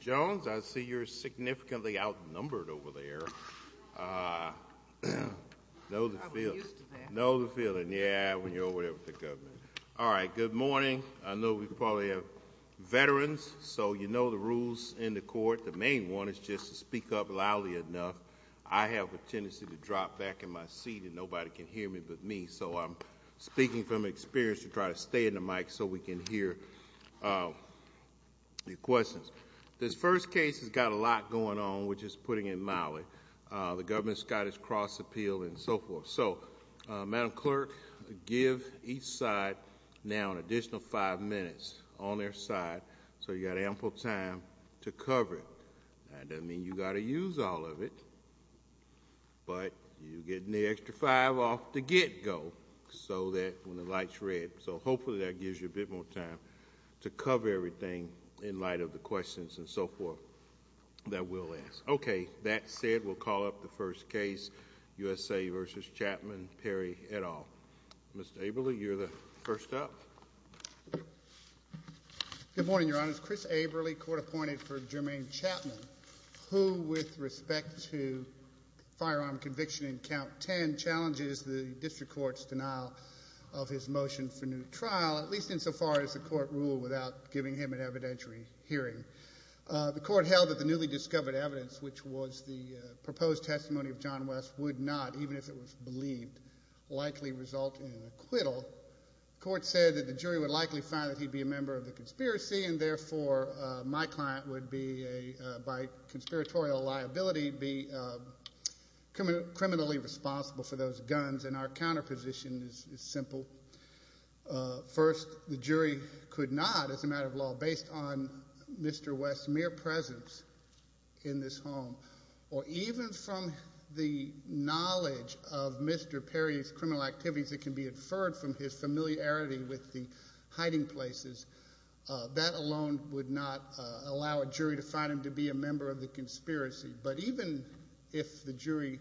Jones, I see you're significantly outnumbered over there. Know the feeling, yeah, when you're over there with the government. All right, good morning. I know we probably have veterans, so you know the rules in the court. The main one is just to speak up loudly enough. I have a tendency to drop back in my seat and nobody can hear me but me, so I'm speaking from experience to try to stay in the mic so we can hear the questions. This first case has got a lot going on, which is putting in Miley. The government's got its cross appeal and so forth. So, Madam Clerk, give each side now an additional five minutes on their side so you've got ample time to cover it. That doesn't mean you've got to use all of it, but you get an extra five off the get-go so that when the light's red. So hopefully that gives you a bit more time to cover everything in light of the questions and so forth that we'll ask. Okay, that said, we'll call up the first case, USA v. Chapman, Perry, et al. Mr. Aberle, you're the first up. Good morning, Your Honors. Chris Aberle, court appointed for Jermaine Chapman, who with respect to firearm conviction in Count 10 challenges the district court's denial of his motion for new trial, at least insofar as the court ruled without giving him an evidentiary hearing. The court held that the newly discovered evidence, which was the proposed testimony of John West, would not, even if it was believed, likely result in an acquittal. The court said that the jury would likely find that he'd be a member of the conspiracy and therefore my client would be, by conspiratorial liability, be criminally responsible for those guns, and our counterposition is simple. First, the jury could not, as a matter of law, based on Mr. West's mere presence in this home or even from the knowledge of Mr. Perry's criminal activities that can be inferred from his familiarity with the hiding places, that alone would not allow a jury to find him to be a member of the conspiracy. But even if the jury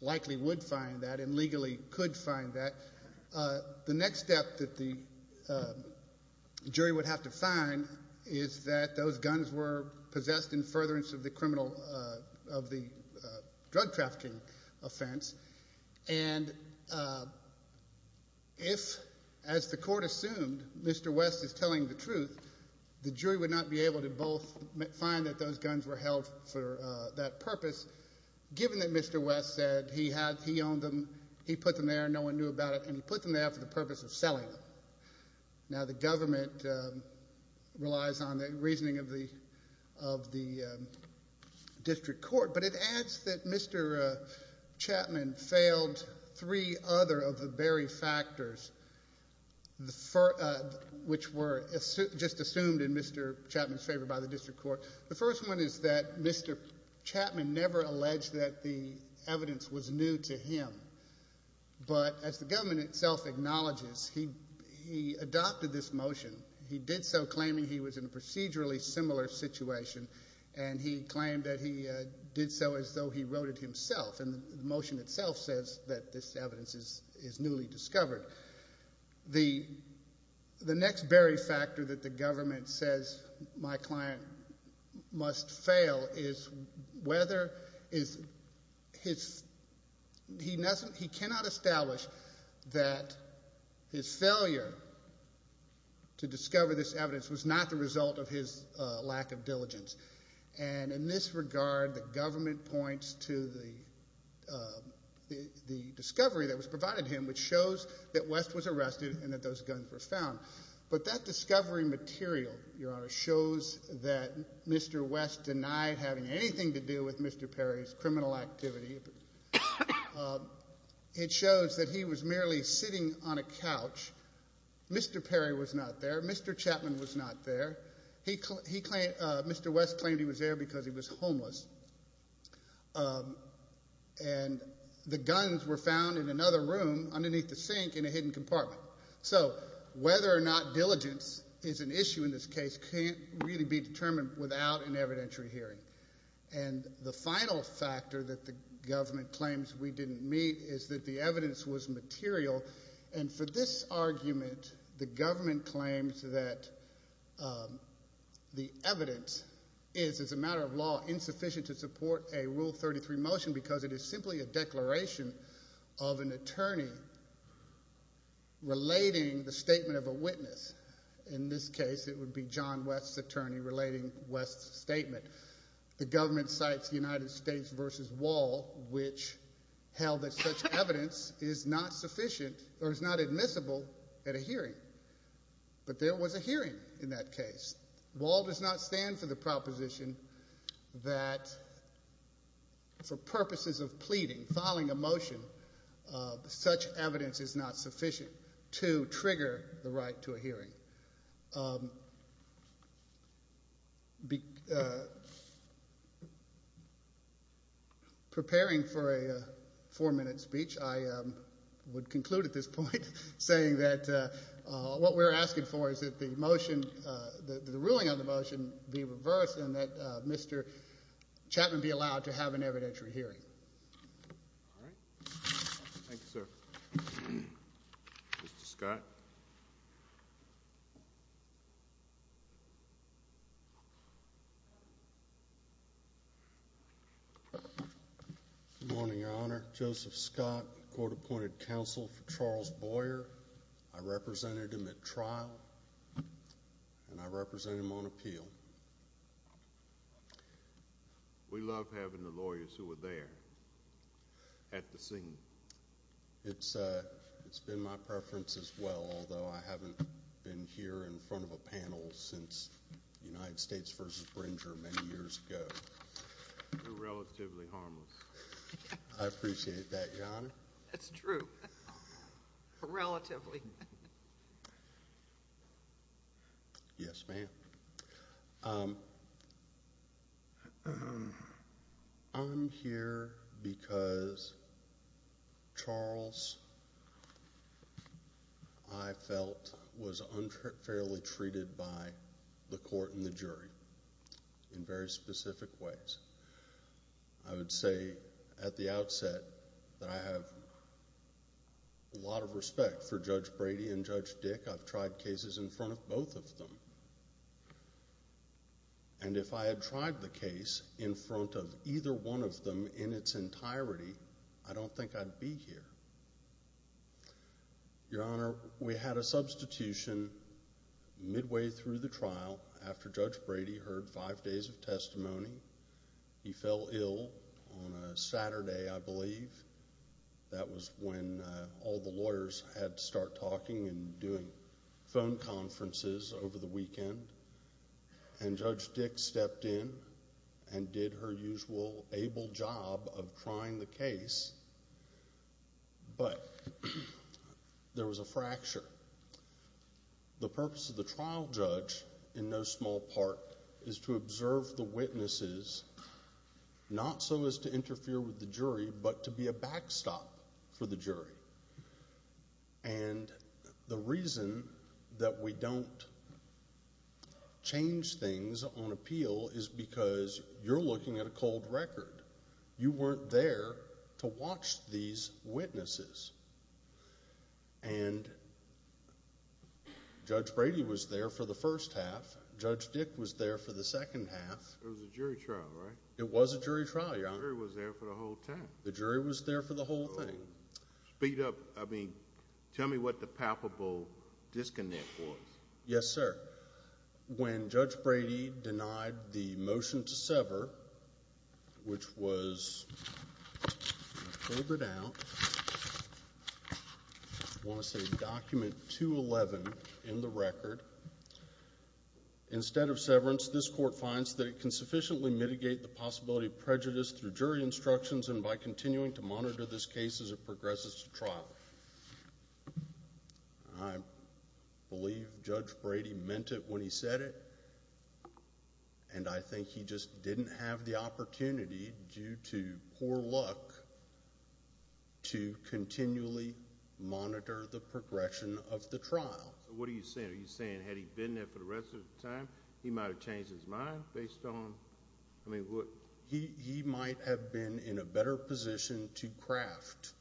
likely would find that and legally could find that, the next step that the jury would have to find is that those guns were possessed in furtherance of the drug trafficking offense, and if, as the court assumed, Mr. West is telling the truth, the jury would not be able to both find that those guns were held for that purpose, given that Mr. West said he owned them, he put them there, no one knew about it, and he put them there for the purpose of selling them. Now, the government relies on the reasoning of the district court, but it adds that Mr. Chapman failed three other of the very factors which were just assumed in Mr. Chapman's favor by the district court. The first one is that Mr. Chapman never alleged that the evidence was new to him, but as the government itself acknowledges, he adopted this motion. He did so claiming he was in a procedurally similar situation, and he claimed that he did so as though he wrote it himself, and the motion itself says that this evidence is newly discovered. The next very factor that the government says my client must fail is whether his ‑‑ he cannot establish that his failure to discover this evidence was not the result of his lack of diligence, and in this regard, the government points to the discovery that was provided to him which shows that West was arrested and that those guns were found, but that discovery material, Your Honor, shows that Mr. West denied having anything to do with Mr. Perry's criminal activity. It shows that he was merely sitting on a couch. Mr. Perry was not there. Mr. Chapman was not there. And the guns were found in another room underneath the sink in a hidden compartment. So whether or not diligence is an issue in this case can't really be determined without an evidentiary hearing, and the final factor that the government claims we didn't meet is that the evidence was material, and for this argument, the government claims that the evidence is, as a matter of law, insufficient to support a Rule 33 motion because it is simply a declaration of an attorney relating the statement of a witness. In this case, it would be John West's attorney relating West's statement. The government cites United States v. Wall, which held that such evidence is not sufficient or is not admissible at a hearing, but there was a hearing in that case. Wall does not stand for the proposition that for purposes of pleading, filing a motion, such evidence is not sufficient to trigger the right to a hearing. Preparing for a four-minute speech, I would conclude at this point saying that what we're asking for is that the motion, the ruling of the motion be reversed and that Mr. Chapman be allowed to have an evidentiary hearing. All right. Thank you, sir. Mr. Scott. Good morning, Your Honor. Joseph Scott, court-appointed counsel for Charles Boyer. I represented him at trial, and I represented him on appeal. We love having the lawyers who are there at the scene. It's been my preference as well, although I haven't been here in front of a panel since United States v. Bringer many years ago. You're relatively harmless. I appreciate that, Your Honor. That's true, relatively. Yes, ma'am. I'm here because Charles, I felt, was unfairly treated by the court and the jury in very specific ways. I would say at the outset that I have a lot of respect for Judge Brady and Judge Dick. I've tried cases in front of both of them. And if I had tried the case in front of either one of them in its entirety, I don't think I'd be here. Your Honor, we had a substitution midway through the trial after Judge Brady heard five days of testimony. He fell ill on a Saturday, I believe. That was when all the lawyers had to start talking and doing phone conferences over the weekend. And Judge Dick stepped in and did her usual able job of trying the case, but there was a fracture. The purpose of the trial judge, in no small part, is to observe the witnesses, not so as to interfere with the jury, but to be a backstop for the jury. And the reason that we don't change things on appeal is because you're looking at a cold record. You weren't there to watch these witnesses. And Judge Brady was there for the first half. Judge Dick was there for the second half. It was a jury trial, right? It was a jury trial, Your Honor. The jury was there for the whole time. The jury was there for the whole thing. Speed up. I mean, tell me what the palpable disconnect was. Yes, sir. When Judge Brady denied the motion to sever, which was October down, I want to say document 211 in the record, instead of severance, this court finds that it can sufficiently mitigate the possibility of prejudice through jury instructions and by continuing to monitor this case as it progresses to trial. I believe Judge Brady meant it when he said it, and I think he just didn't have the opportunity, due to poor luck, to continually monitor the progression of the trial. So what are you saying? Are you saying had he been there for the rest of the time, he might have changed his mind based on, I mean, what? He might have been in a better position to craft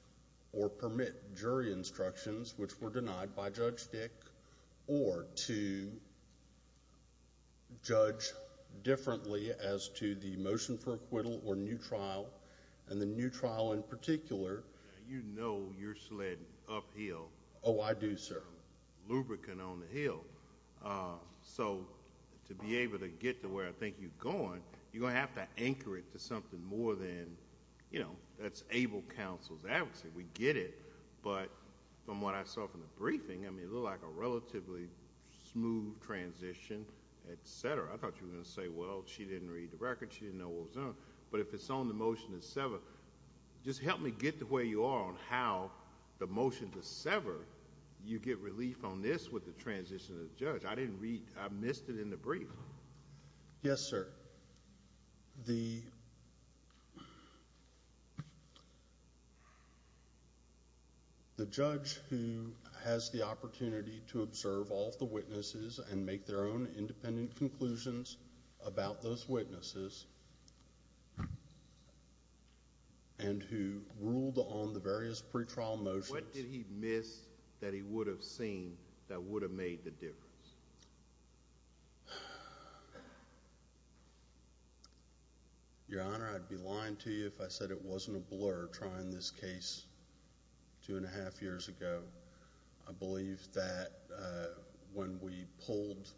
or permit jury instructions, which were denied by Judge Dick, or to judge differently as to the motion for acquittal or new trial, and the new trial in particular. You know you're sled uphill. Oh, I do, sir. Lubricant on the hill. So to be able to get to where I think you're going, you're going to have to anchor it to something more than, you know, that's able counsel's advocacy. We get it, but from what I saw from the briefing, I mean, it looked like a relatively smooth transition, et cetera. I thought you were going to say, well, she didn't read the record. She didn't know what was going on. But if it's on the motion to sever, just help me get to where you are on how the motion to sever, you get relief on this with the transition of the judge. I didn't read. I missed it in the brief. Yes, sir. The judge who has the opportunity to observe all of the witnesses and make their own independent conclusions about those witnesses and who ruled on the various pretrial motions. What did he miss that he would have seen that would have made the difference? Your Honor, I'd be lying to you if I said it wasn't a blur trying this case two and a half years ago. I believe that when we pulled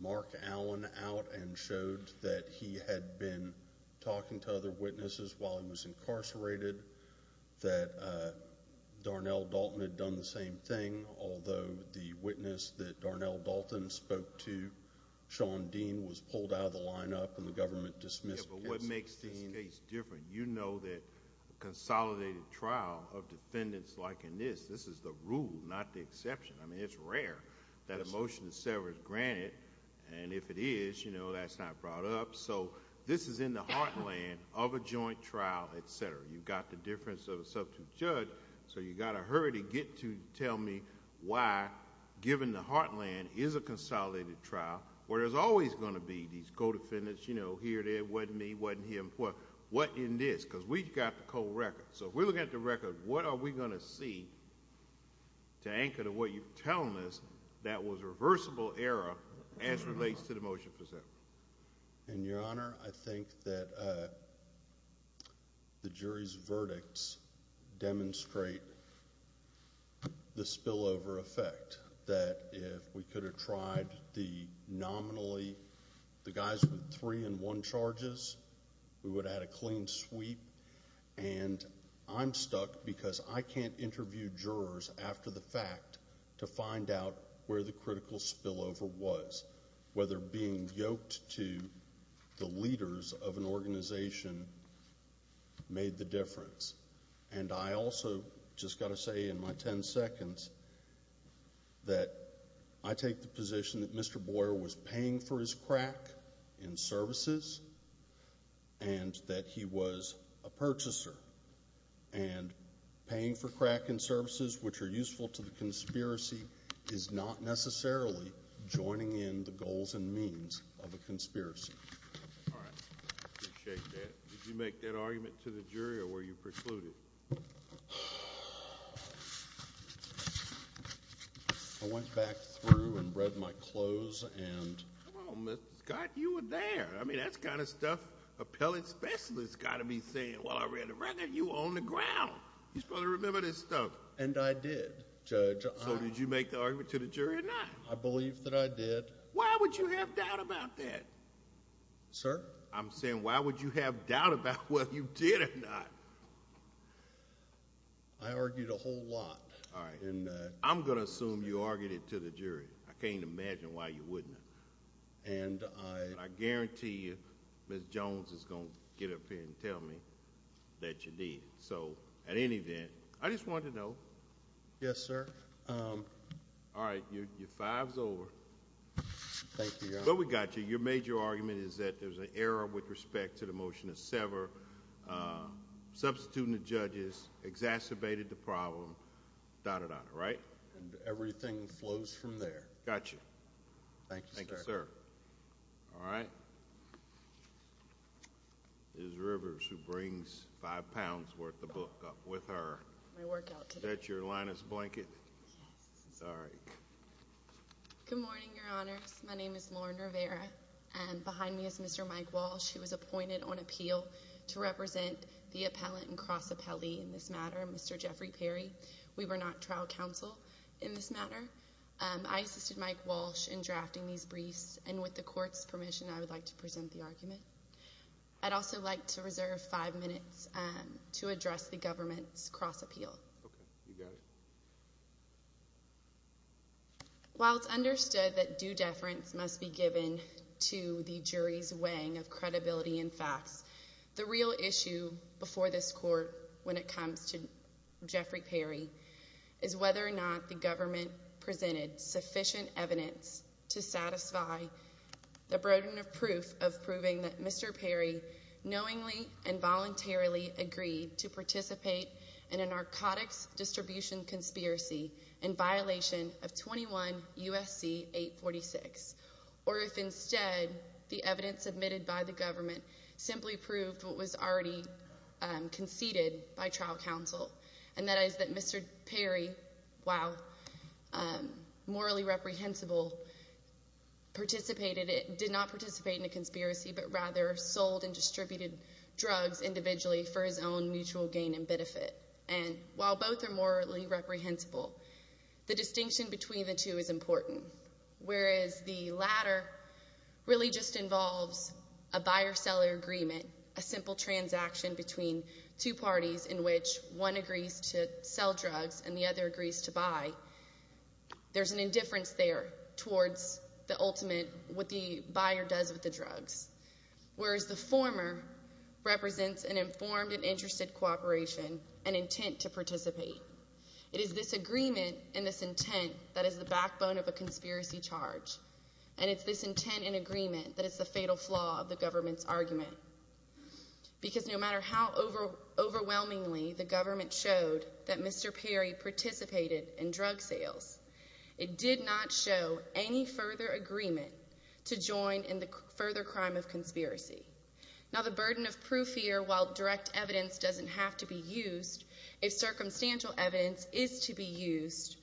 Mark Allen out and showed that he had been talking to other witnesses while he was incarcerated, that Darnell Dalton had done the same thing, although the witness that Darnell Dalton spoke to, Sean Dean, was pulled out of the lineup and the government dismissed the case. Yes, but what makes this case different? You know that a consolidated trial of defendants like in this, this is the rule, not the exception. I mean, it's rare that a motion to sever is granted, and if it is, that's not brought up. You've got the difference of a substitute judge, so you've got to hurry to get to tell me why, given the Heartland is a consolidated trial, where there's always going to be these co-defendants, you know, here, there, wasn't me, wasn't him, what in this, because we've got the cold record. So if we're looking at the record, what are we going to see to anchor to what you're telling us, that was a reversible error as relates to the motion presented? Your Honor, I think that the jury's verdicts demonstrate the spillover effect, that if we could have tried the nominally, the guys with three and one charges, we would have had a clean sweep, and I'm stuck because I can't interview jurors after the fact to find out where the critical spillover was, whether being yoked to the leaders of an organization made the difference. And I also just got to say in my ten seconds that I take the position that Mr. Boyer was paying for his crack in services and that he was a purchaser, and paying for crack in services, which are useful to the conspiracy, is not necessarily joining in the goals and means of a conspiracy. All right. I appreciate that. Did you make that argument to the jury or were you precluded? I went back through and read my clothes and— Come on, Mr. Scott, you were there. I mean, that's the kind of stuff appellate specialists got to be saying. Well, I read it right there. You were on the ground. You're supposed to remember this stuff. And I did, Judge. So did you make the argument to the jury or not? I believe that I did. Why would you have doubt about that? Sir? I'm saying why would you have doubt about whether you did or not? I argued a whole lot. All right. I'm going to assume you argued it to the jury. I can't imagine why you wouldn't. And I— But I guarantee you Ms. Jones is going to get up here and tell me that you did. So at any event, I just wanted to know. Yes, sir. All right. Your five's over. Thank you, Your Honor. But we got you. Your major argument is that there's an error with respect to the motion to sever. Substituting the judges exacerbated the problem, dot, dot, dot, right? And everything flows from there. Got you. Thank you, sir. Thank you, sir. All right. Ms. Rivers, who brings five pounds worth of book up with her. My workout today. Is that your Linus blanket? Yes. Sorry. Good morning, Your Honors. My name is Lauren Rivera. Behind me is Mr. Mike Walsh, who was appointed on appeal to represent the appellant and cross-appellee in this matter, Mr. Jeffrey Perry. We were not trial counsel in this matter. I assisted Mike Walsh in drafting these briefs. And with the court's permission, I would like to present the argument. I'd also like to reserve five minutes to address the government's cross-appeal. Okay. You got it. While it's understood that due deference must be given to the jury's weighing of credibility and facts, the real issue before this court when it comes to Jeffrey Perry is whether or not the government presented sufficient evidence to satisfy the burden of proof of proving that Mr. Perry knowingly and voluntarily agreed to participate in a narcotics distribution conspiracy in violation of 21 U.S.C. 846. Or if instead, the evidence submitted by the government simply proved what was already conceded by trial counsel. And that is that Mr. Perry, while morally reprehensible, did not participate in a conspiracy, but rather sold and distributed drugs individually for his own mutual gain and benefit. And while both are morally reprehensible, the distinction between the two is important. Whereas the latter really just involves a buyer-seller agreement, a simple transaction between two parties in which one agrees to sell drugs and the other agrees to buy. There's an indifference there towards the ultimate, what the buyer does with the drugs. Whereas the former represents an informed and interested cooperation, an intent to participate. It is this agreement and this intent that is the backbone of a conspiracy charge. And it's this intent and agreement that is the fatal flaw of the government's argument. Because no matter how overwhelmingly the government showed that Mr. Perry participated in drug sales, it did not show any further agreement to join in the further crime of conspiracy. Now the burden of proof here, while direct evidence doesn't have to be used, if circumstantial evidence is to be used,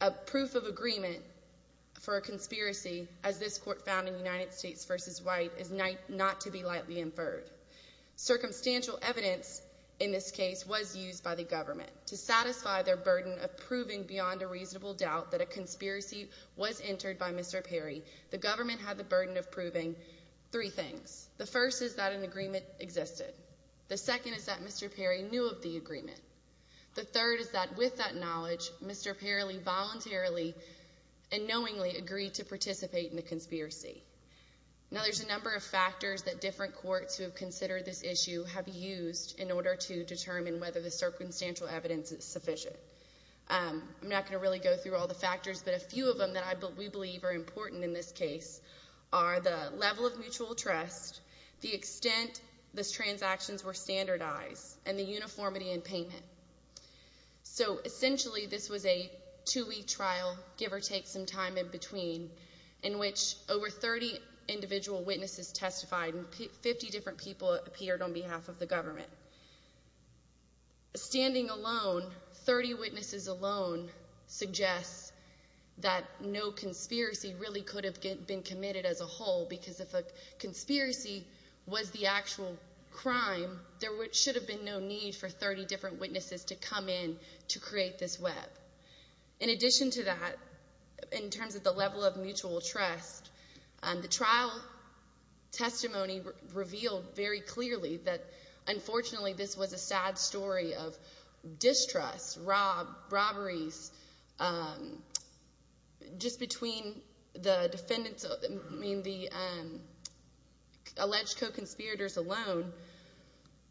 a proof of agreement for a conspiracy, as this court found in United States v. White, is not to be lightly inferred. Circumstantial evidence in this case was used by the government to satisfy their burden of proving beyond a reasonable doubt that a conspiracy was entered by Mr. Perry. The government had the burden of proving three things. The first is that an agreement existed. The second is that Mr. Perry knew of the agreement. The third is that with that knowledge, Mr. Perry voluntarily and knowingly agreed to participate in the conspiracy. Now there's a number of factors that different courts who have considered this issue have used in order to determine whether the circumstantial evidence is sufficient. I'm not going to really go through all the factors, but a few of them that we believe are important in this case are the level of mutual trust, the extent the transactions were standardized, and the uniformity in payment. So essentially this was a two-week trial, give or take some time in between, in which over 30 individual witnesses testified and 50 different people appeared on behalf of the government. Standing alone, 30 witnesses alone suggests that no conspiracy really could have been committed as a whole because if a conspiracy was the actual crime, there should have been no need for 30 different witnesses to come in to create this web. In addition to that, in terms of the level of mutual trust, the trial testimony revealed very clearly that unfortunately this was a sad story of distrust, robberies, just between the defendants, I mean the alleged co-conspirators alone,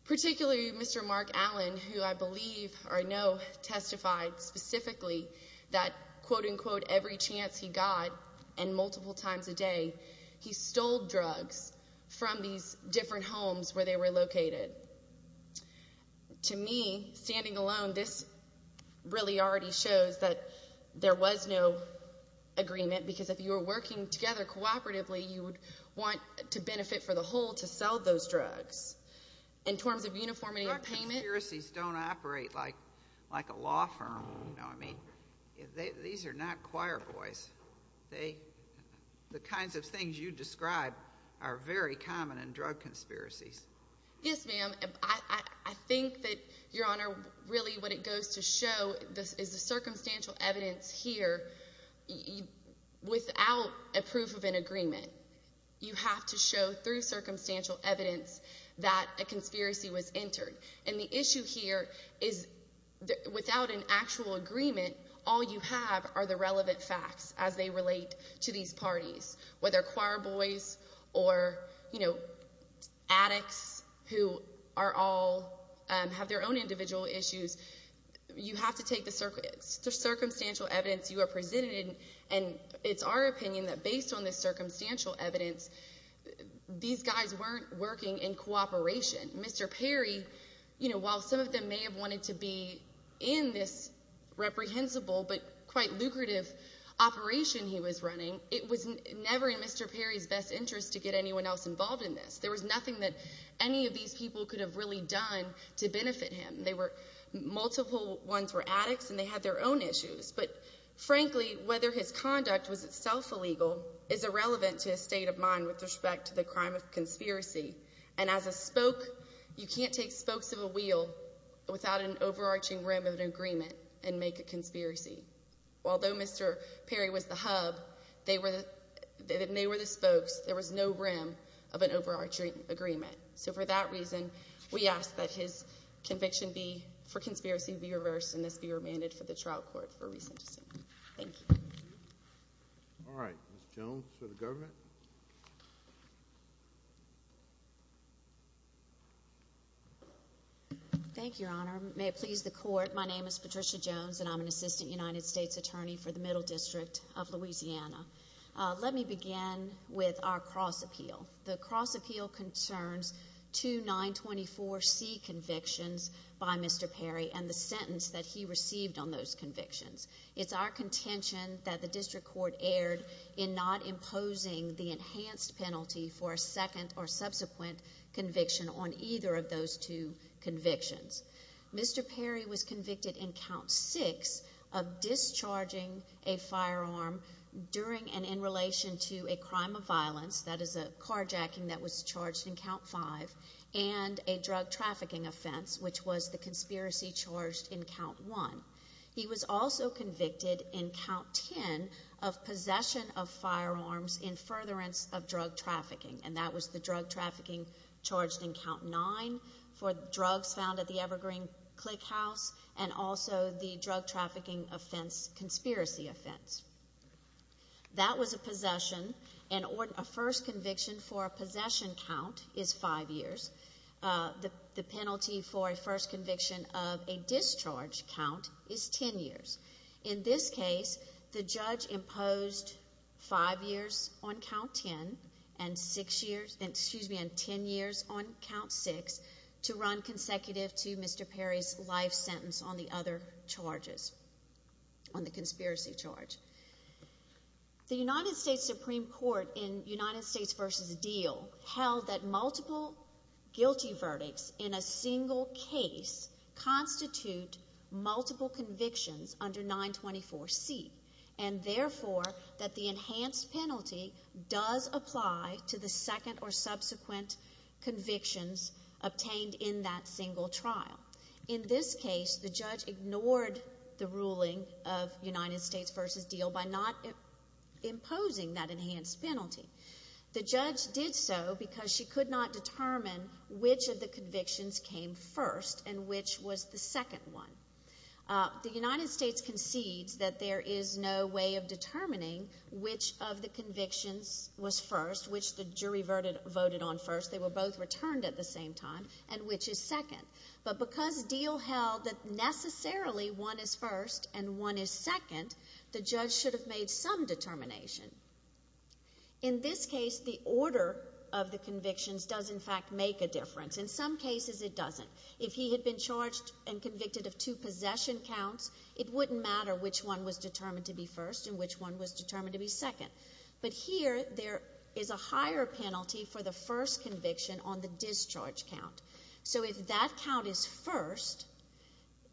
particularly Mr. Mark Allen, who I believe or I know testified specifically that quote-unquote every chance he got and multiple times a day, he stole drugs from these different homes where they were located. To me, standing alone, this really already shows that there was no agreement because if you were working together cooperatively, you would want to benefit for the whole to sell those drugs. In terms of uniformity of payment... Drug conspiracies don't operate like a law firm, you know what I mean? These are not choir boys. The kinds of things you describe are very common in drug conspiracies. Yes, ma'am. I think that, Your Honor, really what it goes to show is the circumstantial evidence here without a proof of an agreement. You have to show through circumstantial evidence that a conspiracy was entered. And the issue here is without an actual agreement, all you have are the relevant facts as they relate to these parties, whether choir boys or addicts who are all, have their own individual issues. You have to take the circumstantial evidence you are presenting and it's our opinion that based on the circumstantial evidence, these guys weren't working in cooperation. Mr. Perry, while some of them may have wanted to be in this reprehensible but quite lucrative operation he was running, it was never in Mr. Perry's best interest to get anyone else involved in this. There was nothing that any of these people could have really done to benefit him. Multiple ones were addicts and they had their own issues. But frankly, whether his conduct was itself illegal is irrelevant to his state of mind with respect to the crime of conspiracy. And as a spoke, you can't take spokes of a wheel without an overarching rim of an agreement and make a conspiracy. Although Mr. Perry was the hub, they were the spokes. There was no rim of an overarching agreement. So for that reason, we ask that his conviction for conspiracy be reversed and this be remanded for the trial court for recency. Thank you. All right. Ms. Jones for the government. Thank you, Your Honor. May it please the court, my name is Patricia Jones and I'm an assistant United States attorney for the Middle District of Louisiana. Let me begin with our cross appeal. The cross appeal concerns two 924C convictions by Mr. Perry and the sentence that he received on those convictions. It's our contention that the district court erred in not imposing the enhanced penalty for a second or subsequent conviction on either of those two convictions. Mr. Perry was convicted in count six of discharging a firearm during and in relation to a crime of violence, that is a carjacking that was charged in count five, and a drug trafficking offense, which was the conspiracy charged in count one. He was also convicted in count ten of possession of firearms in furtherance of drug trafficking, and that was the drug trafficking charged in count nine for drugs found at the Evergreen Click House and also the drug trafficking offense, conspiracy offense. That was a possession and a first conviction for a possession count is five years. The penalty for a first conviction of a discharge count is ten years. In this case, the judge imposed five years on count ten and ten years on count six to run consecutive to Mr. Perry's life sentence on the other charges, on the conspiracy charge. The United States Supreme Court in United States v. Deal held that multiple guilty verdicts in a single case constitute multiple convictions under 924C, and therefore that the enhanced penalty does apply to the second or subsequent convictions obtained in that single trial. In this case, the judge ignored the ruling of United States v. Deal by not imposing that enhanced penalty. The judge did so because she could not determine which of the convictions came first and which was the second one. The United States concedes that there is no way of determining which of the convictions was first, which the jury voted on first. They were both returned at the same time, and which is second. But because Deal held that necessarily one is first and one is second, the judge should have made some determination. In this case, the order of the convictions does, in fact, make a difference. In some cases, it doesn't. If he had been charged and convicted of two possession counts, it wouldn't matter which one was determined to be first and which one was determined to be second. But here, there is a higher penalty for the first conviction on the discharge count. So if that count is first,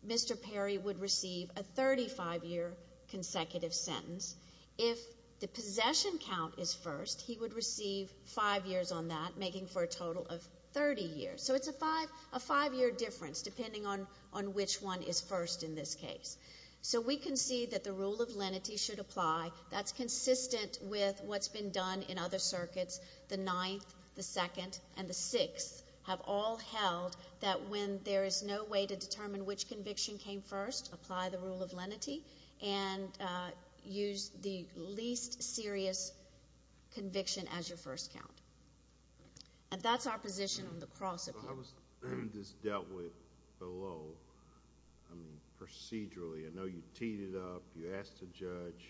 Mr. Perry would receive a 35-year consecutive sentence. If the possession count is first, he would receive five years on that, making for a total of 30 years. So it's a five-year difference, depending on which one is first in this case. So we concede that the rule of lenity should apply. That's consistent with what's been done in other circuits. The ninth, the second, and the sixth have all held that when there is no way to determine which conviction came first, apply the rule of lenity and use the least serious conviction as your first count. And that's our position on the cross-appeal. I was just dealt with below, I mean, procedurally. I know you teed it up. You asked a judge.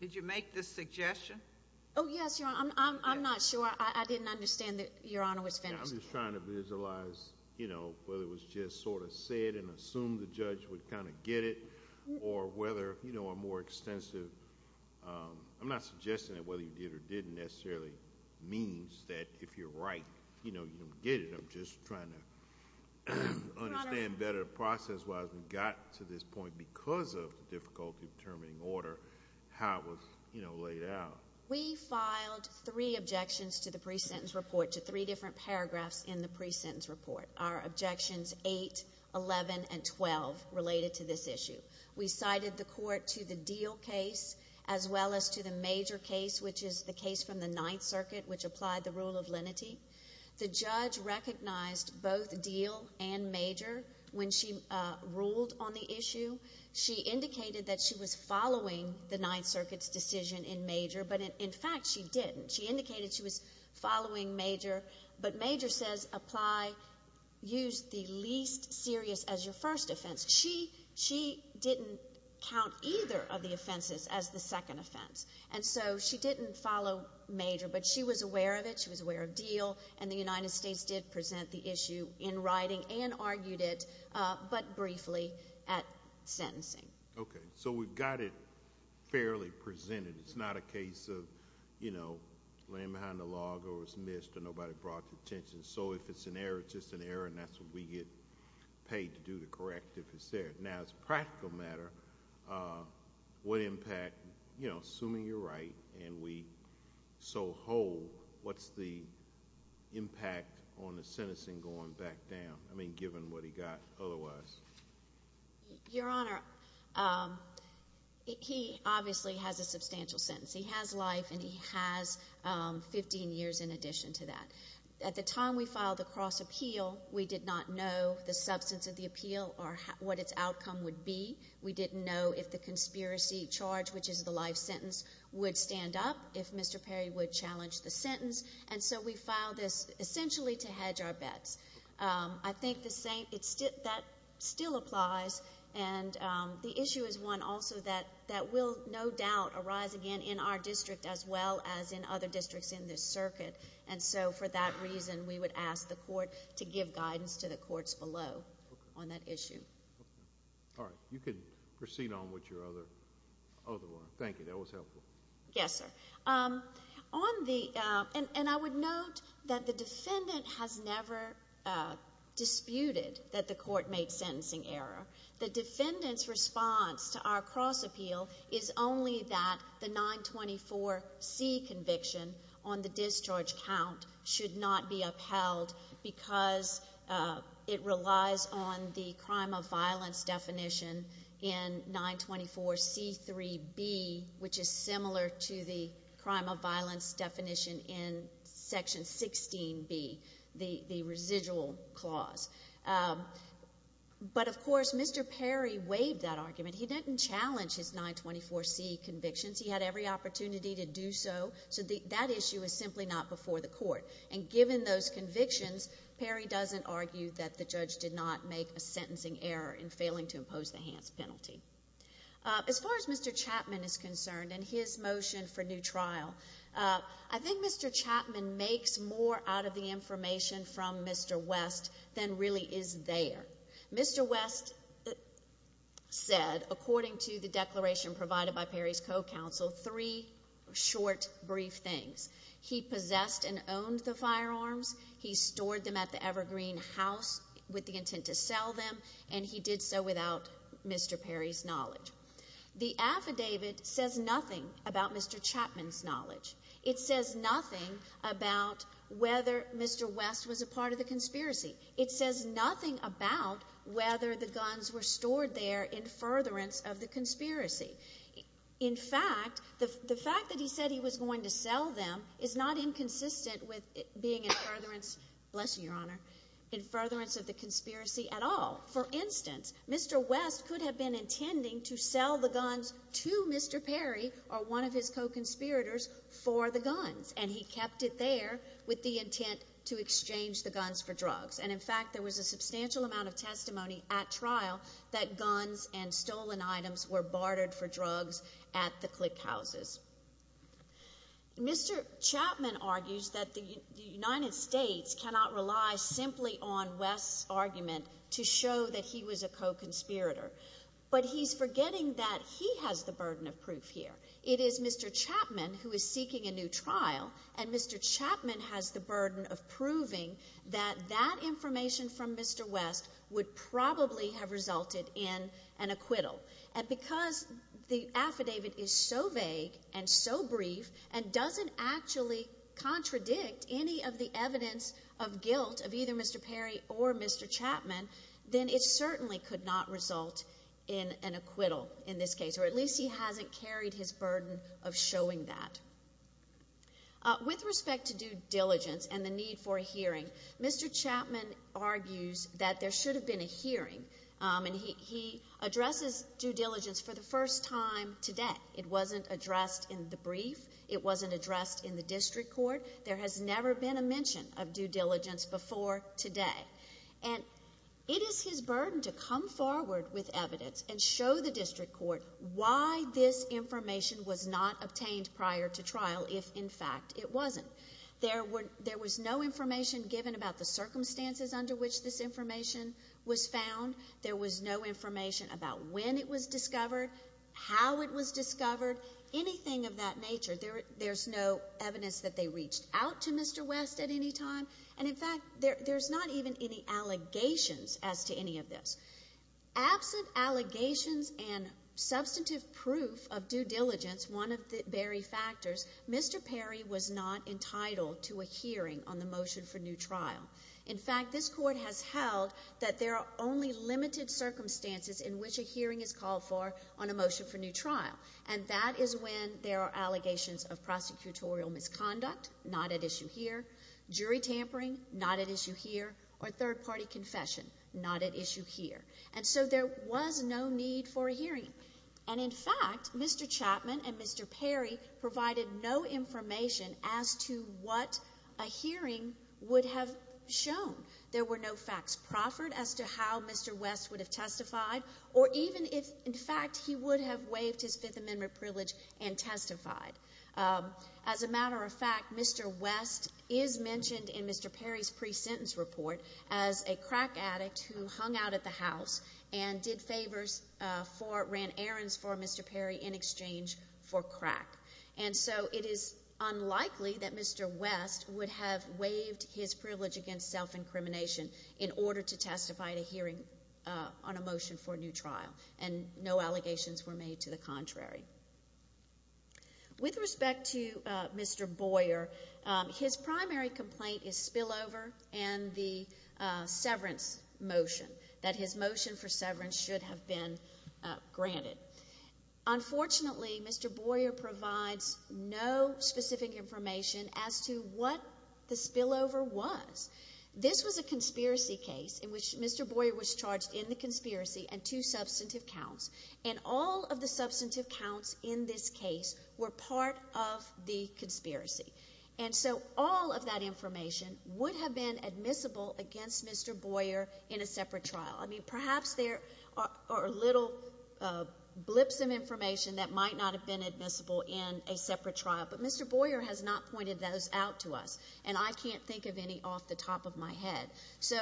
Did you make this suggestion? Oh, yes, Your Honor. I'm not sure. I didn't understand that Your Honor was finished. I'm just trying to visualize, you know, whether it was just sort of said and assumed the judge would kind of get it, or whether, you know, a more extensive, I'm not suggesting that whether you did or didn't necessarily means that if you're right, you know, you don't get it. I'm just trying to understand better process-wise. We got to this point because of the difficulty of determining order, how it was, you know, laid out. We filed three objections to the pre-sentence report, to three different paragraphs in the pre-sentence report. Our objections 8, 11, and 12 related to this issue. We cited the court to the Deal case as well as to the Major case, which is the case from the Ninth Circuit, which applied the rule of lenity. The judge recognized both Deal and Major when she ruled on the issue. She indicated that she was following the Ninth Circuit's decision in Major, but, in fact, she didn't. She indicated she was following Major, but Major says apply, use the least serious as your first offense. She didn't count either of the offenses as the second offense. And so she didn't follow Major, but she was aware of it, she was aware of Deal, and the United States did present the issue in writing and argued it, but briefly, at sentencing. Okay. So we've got it fairly presented. It's not a case of, you know, laying behind a log or it was missed or nobody brought it to attention. So if it's an error, it's just an error, and that's what we get paid to do to correct if it's there. Now, as a practical matter, what impact, you know, assuming you're right and we so hold, what's the impact on the sentencing going back down, I mean, given what he got otherwise? Your Honor, he obviously has a substantial sentence. He has life and he has 15 years in addition to that. At the time we filed the cross appeal, we did not know the substance of the appeal or what its outcome would be. We didn't know if the conspiracy charge, which is the life sentence, would stand up, if Mr. Perry would challenge the sentence, and so we filed this essentially to hedge our bets. I think that still applies, and the issue is one also that will no doubt arise again in our district as well as in other districts in this circuit. And so for that reason, we would ask the court to give guidance to the courts below on that issue. All right. You can proceed on with your other one. Thank you. That was helpful. Yes, sir. And I would note that the defendant has never disputed that the court made sentencing error. The defendant's response to our cross appeal is only that the 924C conviction on the discharge count should not be upheld because it relies on the crime of violence definition in 924C3B, which is similar to the crime of violence definition in Section 16B, the residual clause. But, of course, Mr. Perry waived that argument. He didn't challenge his 924C convictions. He had every opportunity to do so, so that issue is simply not before the court. And given those convictions, Perry doesn't argue that the judge did not make a sentencing error in failing to impose the Hans penalty. As far as Mr. Chapman is concerned and his motion for new trial, I think Mr. Chapman makes more out of the information from Mr. West than really is there. Mr. West said, according to the declaration provided by Perry's co-counsel, three short, brief things. He possessed and owned the firearms. He stored them at the Evergreen House with the intent to sell them, and he did so without Mr. Perry's knowledge. The affidavit says nothing about Mr. Chapman's knowledge. It says nothing about whether Mr. West was a part of the conspiracy. It says nothing about whether the guns were stored there in furtherance of the conspiracy. In fact, the fact that he said he was going to sell them is not inconsistent with being in furtherance, bless you, Your Honor, in furtherance of the conspiracy at all. For instance, Mr. West could have been intending to sell the guns to Mr. Perry or one of his co-conspirators for the guns, and he kept it there with the intent to exchange the guns for drugs. And in fact, there was a substantial amount of testimony at trial that guns and stolen items were bartered for drugs at the click houses. Mr. Chapman argues that the United States cannot rely simply on West's argument to show that he was a co-conspirator, but he's forgetting that he has the burden of proof here. It is Mr. Chapman who is seeking a new trial, and Mr. Chapman has the burden of proving that that information from Mr. West would probably have resulted in an acquittal. And because the affidavit is so vague and so brief and doesn't actually contradict any of the evidence of guilt of either Mr. Perry or Mr. Chapman, then it certainly could not result in an acquittal in this case, or at least he hasn't carried his burden of showing that. With respect to due diligence and the need for a hearing, Mr. Chapman argues that there should have been a hearing, and he addresses due diligence for the first time today. It wasn't addressed in the brief. It wasn't addressed in the district court. There has never been a mention of due diligence before today. And it is his burden to come forward with evidence and show the district court why this information was not obtained prior to trial if, in fact, it wasn't. There was no information given about the circumstances under which this information was found. There was no information about when it was discovered, how it was discovered, anything of that nature. There's no evidence that they reached out to Mr. West at any time. And, in fact, there's not even any allegations as to any of this. Absent allegations and substantive proof of due diligence, one of the very factors, Mr. Perry was not entitled to a hearing on the motion for new trial. In fact, this court has held that there are only limited circumstances in which a hearing is called for on a motion for new trial, and that is when there are allegations of prosecutorial misconduct, not at issue here, jury tampering, not at issue here, or third-party confession, not at issue here. And so there was no need for a hearing. And, in fact, Mr. Chapman and Mr. Perry provided no information as to what a hearing would have shown. There were no facts proffered as to how Mr. West would have testified or even if, in fact, he would have waived his Fifth Amendment privilege and testified. As a matter of fact, Mr. West is mentioned in Mr. Perry's pre-sentence report as a crack addict who hung out at the house and did favors for, ran errands for Mr. Perry in exchange for crack. And so it is unlikely that Mr. West would have waived his privilege against self-incrimination in order to testify at a hearing on a motion for new trial, and no allegations were made to the contrary. With respect to Mr. Boyer, his primary complaint is spillover and the severance motion, that his motion for severance should have been granted. Unfortunately, Mr. Boyer provides no specific information as to what the spillover was. This was a conspiracy case in which Mr. Boyer was charged in the conspiracy and two substantive counts, and all of the substantive counts in this case were part of the conspiracy. And so all of that information would have been admissible against Mr. Boyer in a separate trial. I mean, perhaps there are little blips of information that might not have been admissible in a separate trial, but Mr. Boyer has not pointed those out to us, and I can't think of any off the top of my head. So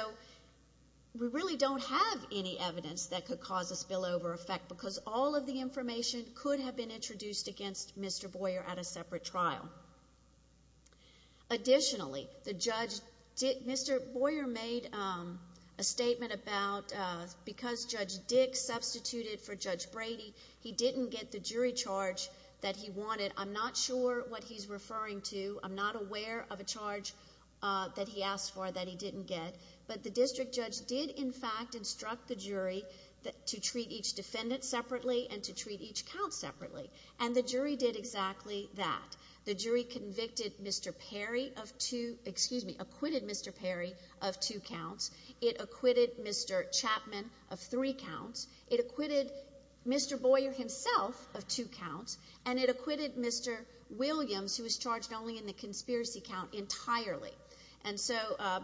we really don't have any evidence that could cause a spillover effect because all of the information could have been introduced against Mr. Boyer at a separate trial. Additionally, Mr. Boyer made a statement about because Judge Dick substituted for Judge Brady, he didn't get the jury charge that he wanted. I'm not sure what he's referring to. I'm not aware of a charge that he asked for that he didn't get. But the district judge did, in fact, instruct the jury to treat each defendant separately and to treat each count separately, and the jury did exactly that. The jury convicted Mr. Perry of two, excuse me, acquitted Mr. Perry of two counts. It acquitted Mr. Chapman of three counts. It acquitted Mr. Boyer himself of two counts, and it acquitted Mr. Williams, who was charged only in the conspiracy count, entirely. And so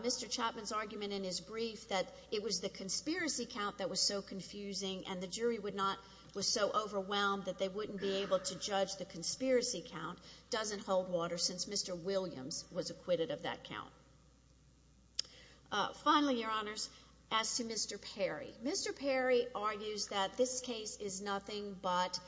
Mr. Chapman's argument in his brief that it was the conspiracy count that was so confusing and the jury was so overwhelmed that they wouldn't be able to judge the conspiracy count doesn't hold water since Mr. Williams was acquitted of that count. Finally, Your Honors, as to Mr. Perry. Mr. Perry argues that this case is nothing but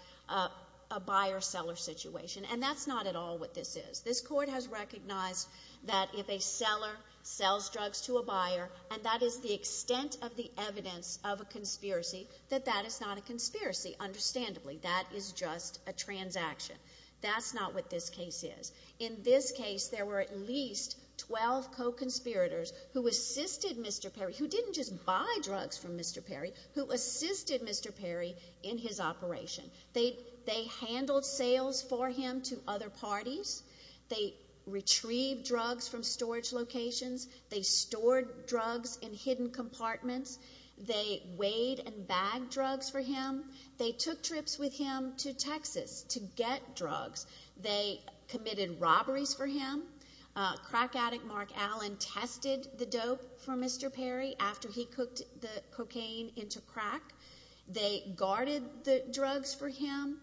a buyer-seller situation, and that's not at all what this is. This Court has recognized that if a seller sells drugs to a buyer, and that is the extent of the evidence of a conspiracy, that that is not a conspiracy. Understandably, that is just a transaction. That's not what this case is. In this case, there were at least 12 co-conspirators who assisted Mr. Perry, who didn't just buy drugs from Mr. Perry, who assisted Mr. Perry in his operation. They handled sales for him to other parties. They retrieved drugs from storage locations. They stored drugs in hidden compartments. They weighed and bagged drugs for him. They took trips with him to Texas to get drugs. They committed robberies for him. Crack addict Mark Allen tested the dope for Mr. Perry after he cooked the cocaine into crack. They guarded the drugs for him.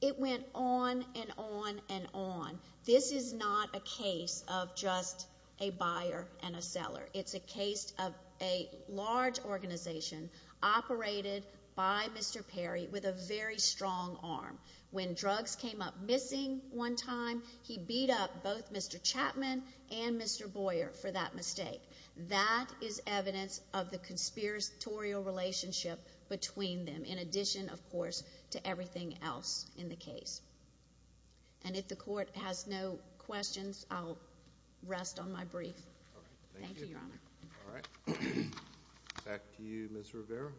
It went on and on and on. This is not a case of just a buyer and a seller. It's a case of a large organization operated by Mr. Perry with a very strong arm. When drugs came up missing one time, he beat up both Mr. Chapman and Mr. Boyer for that mistake. That is evidence of the conspiratorial relationship between them, in addition, of course, to everything else in the case. And if the court has no questions, I'll rest on my brief. Thank you, Your Honor. All right. Back to you, Ms. Rivera.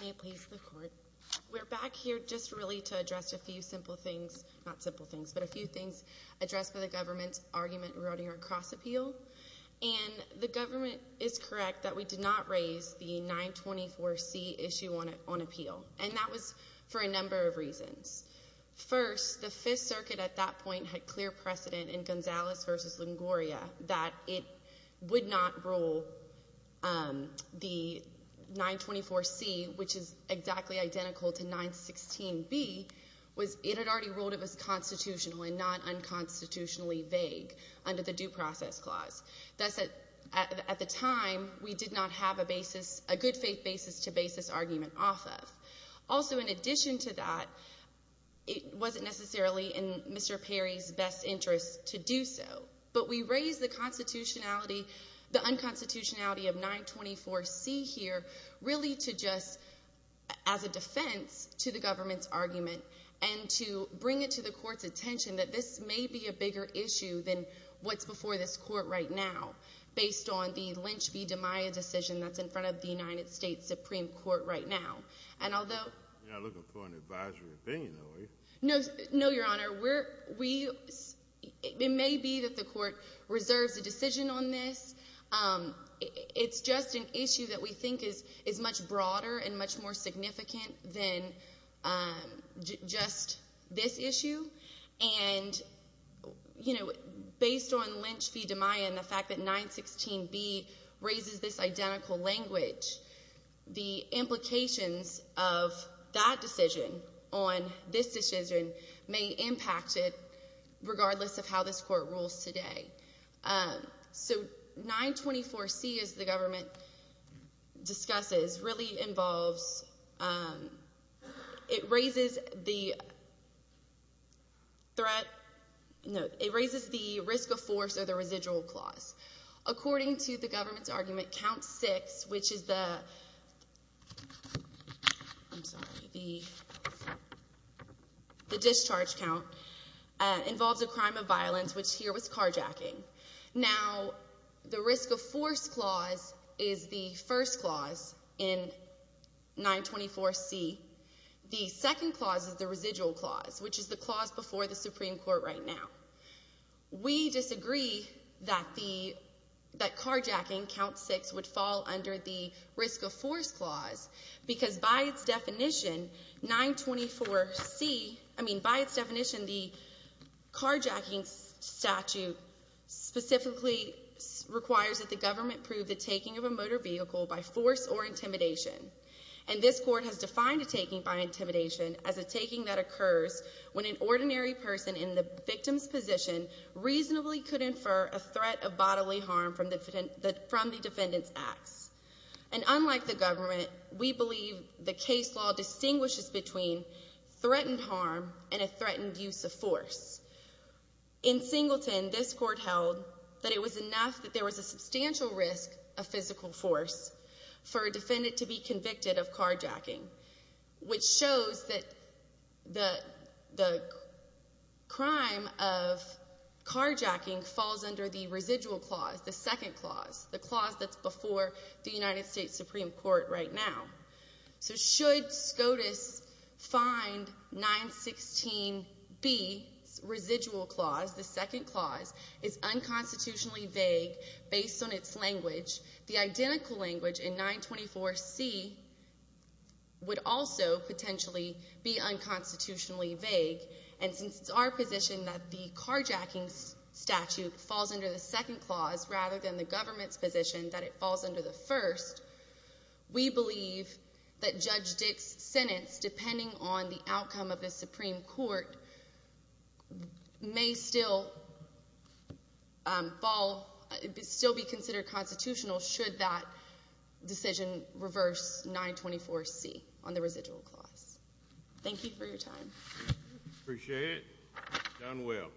May it please the court. We're back here just really to address a few simple things. Not simple things, but a few things addressed by the government's argument regarding our cross-appeal. And the government is correct that we did not raise the 924C issue on appeal, and that was for a number of reasons. First, the Fifth Circuit at that point had clear precedent in Gonzalez v. Longoria that it would not rule the 924C, which is exactly identical to 916B, was it had already ruled it was constitutional and not unconstitutionally vague under the Due Process Clause. Thus, at the time, we did not have a basis, a good faith basis to base this argument off of. Also, in addition to that, it wasn't necessarily in Mr. Perry's best interest to do so. But we raised the constitutionality, the unconstitutionality of 924C here really to just, as a defense to the government's argument, and to bring it to the court's attention that this may be a bigger issue than what's before this court right now, based on the Lynch v. DeMaio decision that's in front of the United States Supreme Court right now. You're not looking for an advisory opinion, are you? No, Your Honor. It may be that the court reserves a decision on this. It's just an issue that we think is much broader and much more significant than just this issue. And based on Lynch v. DeMaio and the fact that 916B raises this identical language, the implications of that decision on this decision may impact it, regardless of how this court rules today. So 924C, as the government discusses, really involves—it raises the risk of force or the residual clause. According to the government's argument, count six, which is the discharge count, involves a crime of violence, which here was carjacking. Now, the risk of force clause is the first clause in 924C. The second clause is the residual clause, which is the clause before the Supreme Court right now. We disagree that carjacking, count six, would fall under the risk of force clause, because by its definition, 924C— I mean, by its definition, the carjacking statute specifically requires that the government prove the taking of a motor vehicle by force or intimidation. And this court has defined a taking by intimidation as a taking that occurs when an ordinary person in the victim's position reasonably could infer a threat of bodily harm from the defendant's acts. And unlike the government, we believe the case law distinguishes between threatened harm and a threatened use of force. In Singleton, this court held that it was enough that there was a substantial risk of physical force for a defendant to be convicted of carjacking, which shows that the crime of carjacking falls under the residual clause, the second clause, the clause that's before the United States Supreme Court right now. So should SCOTUS find 916B's residual clause, the second clause, is unconstitutionally vague based on its language, the identical language in 924C would also potentially be unconstitutionally vague. And since it's our position that the carjacking statute falls under the second clause rather than the government's position that it falls under the first, we believe that Judge Dick's sentence, depending on the outcome of the Supreme Court, may still fall, still be considered constitutional should that decision reverse 924C on the residual clause. Thank you for your time. Appreciate it. Done well.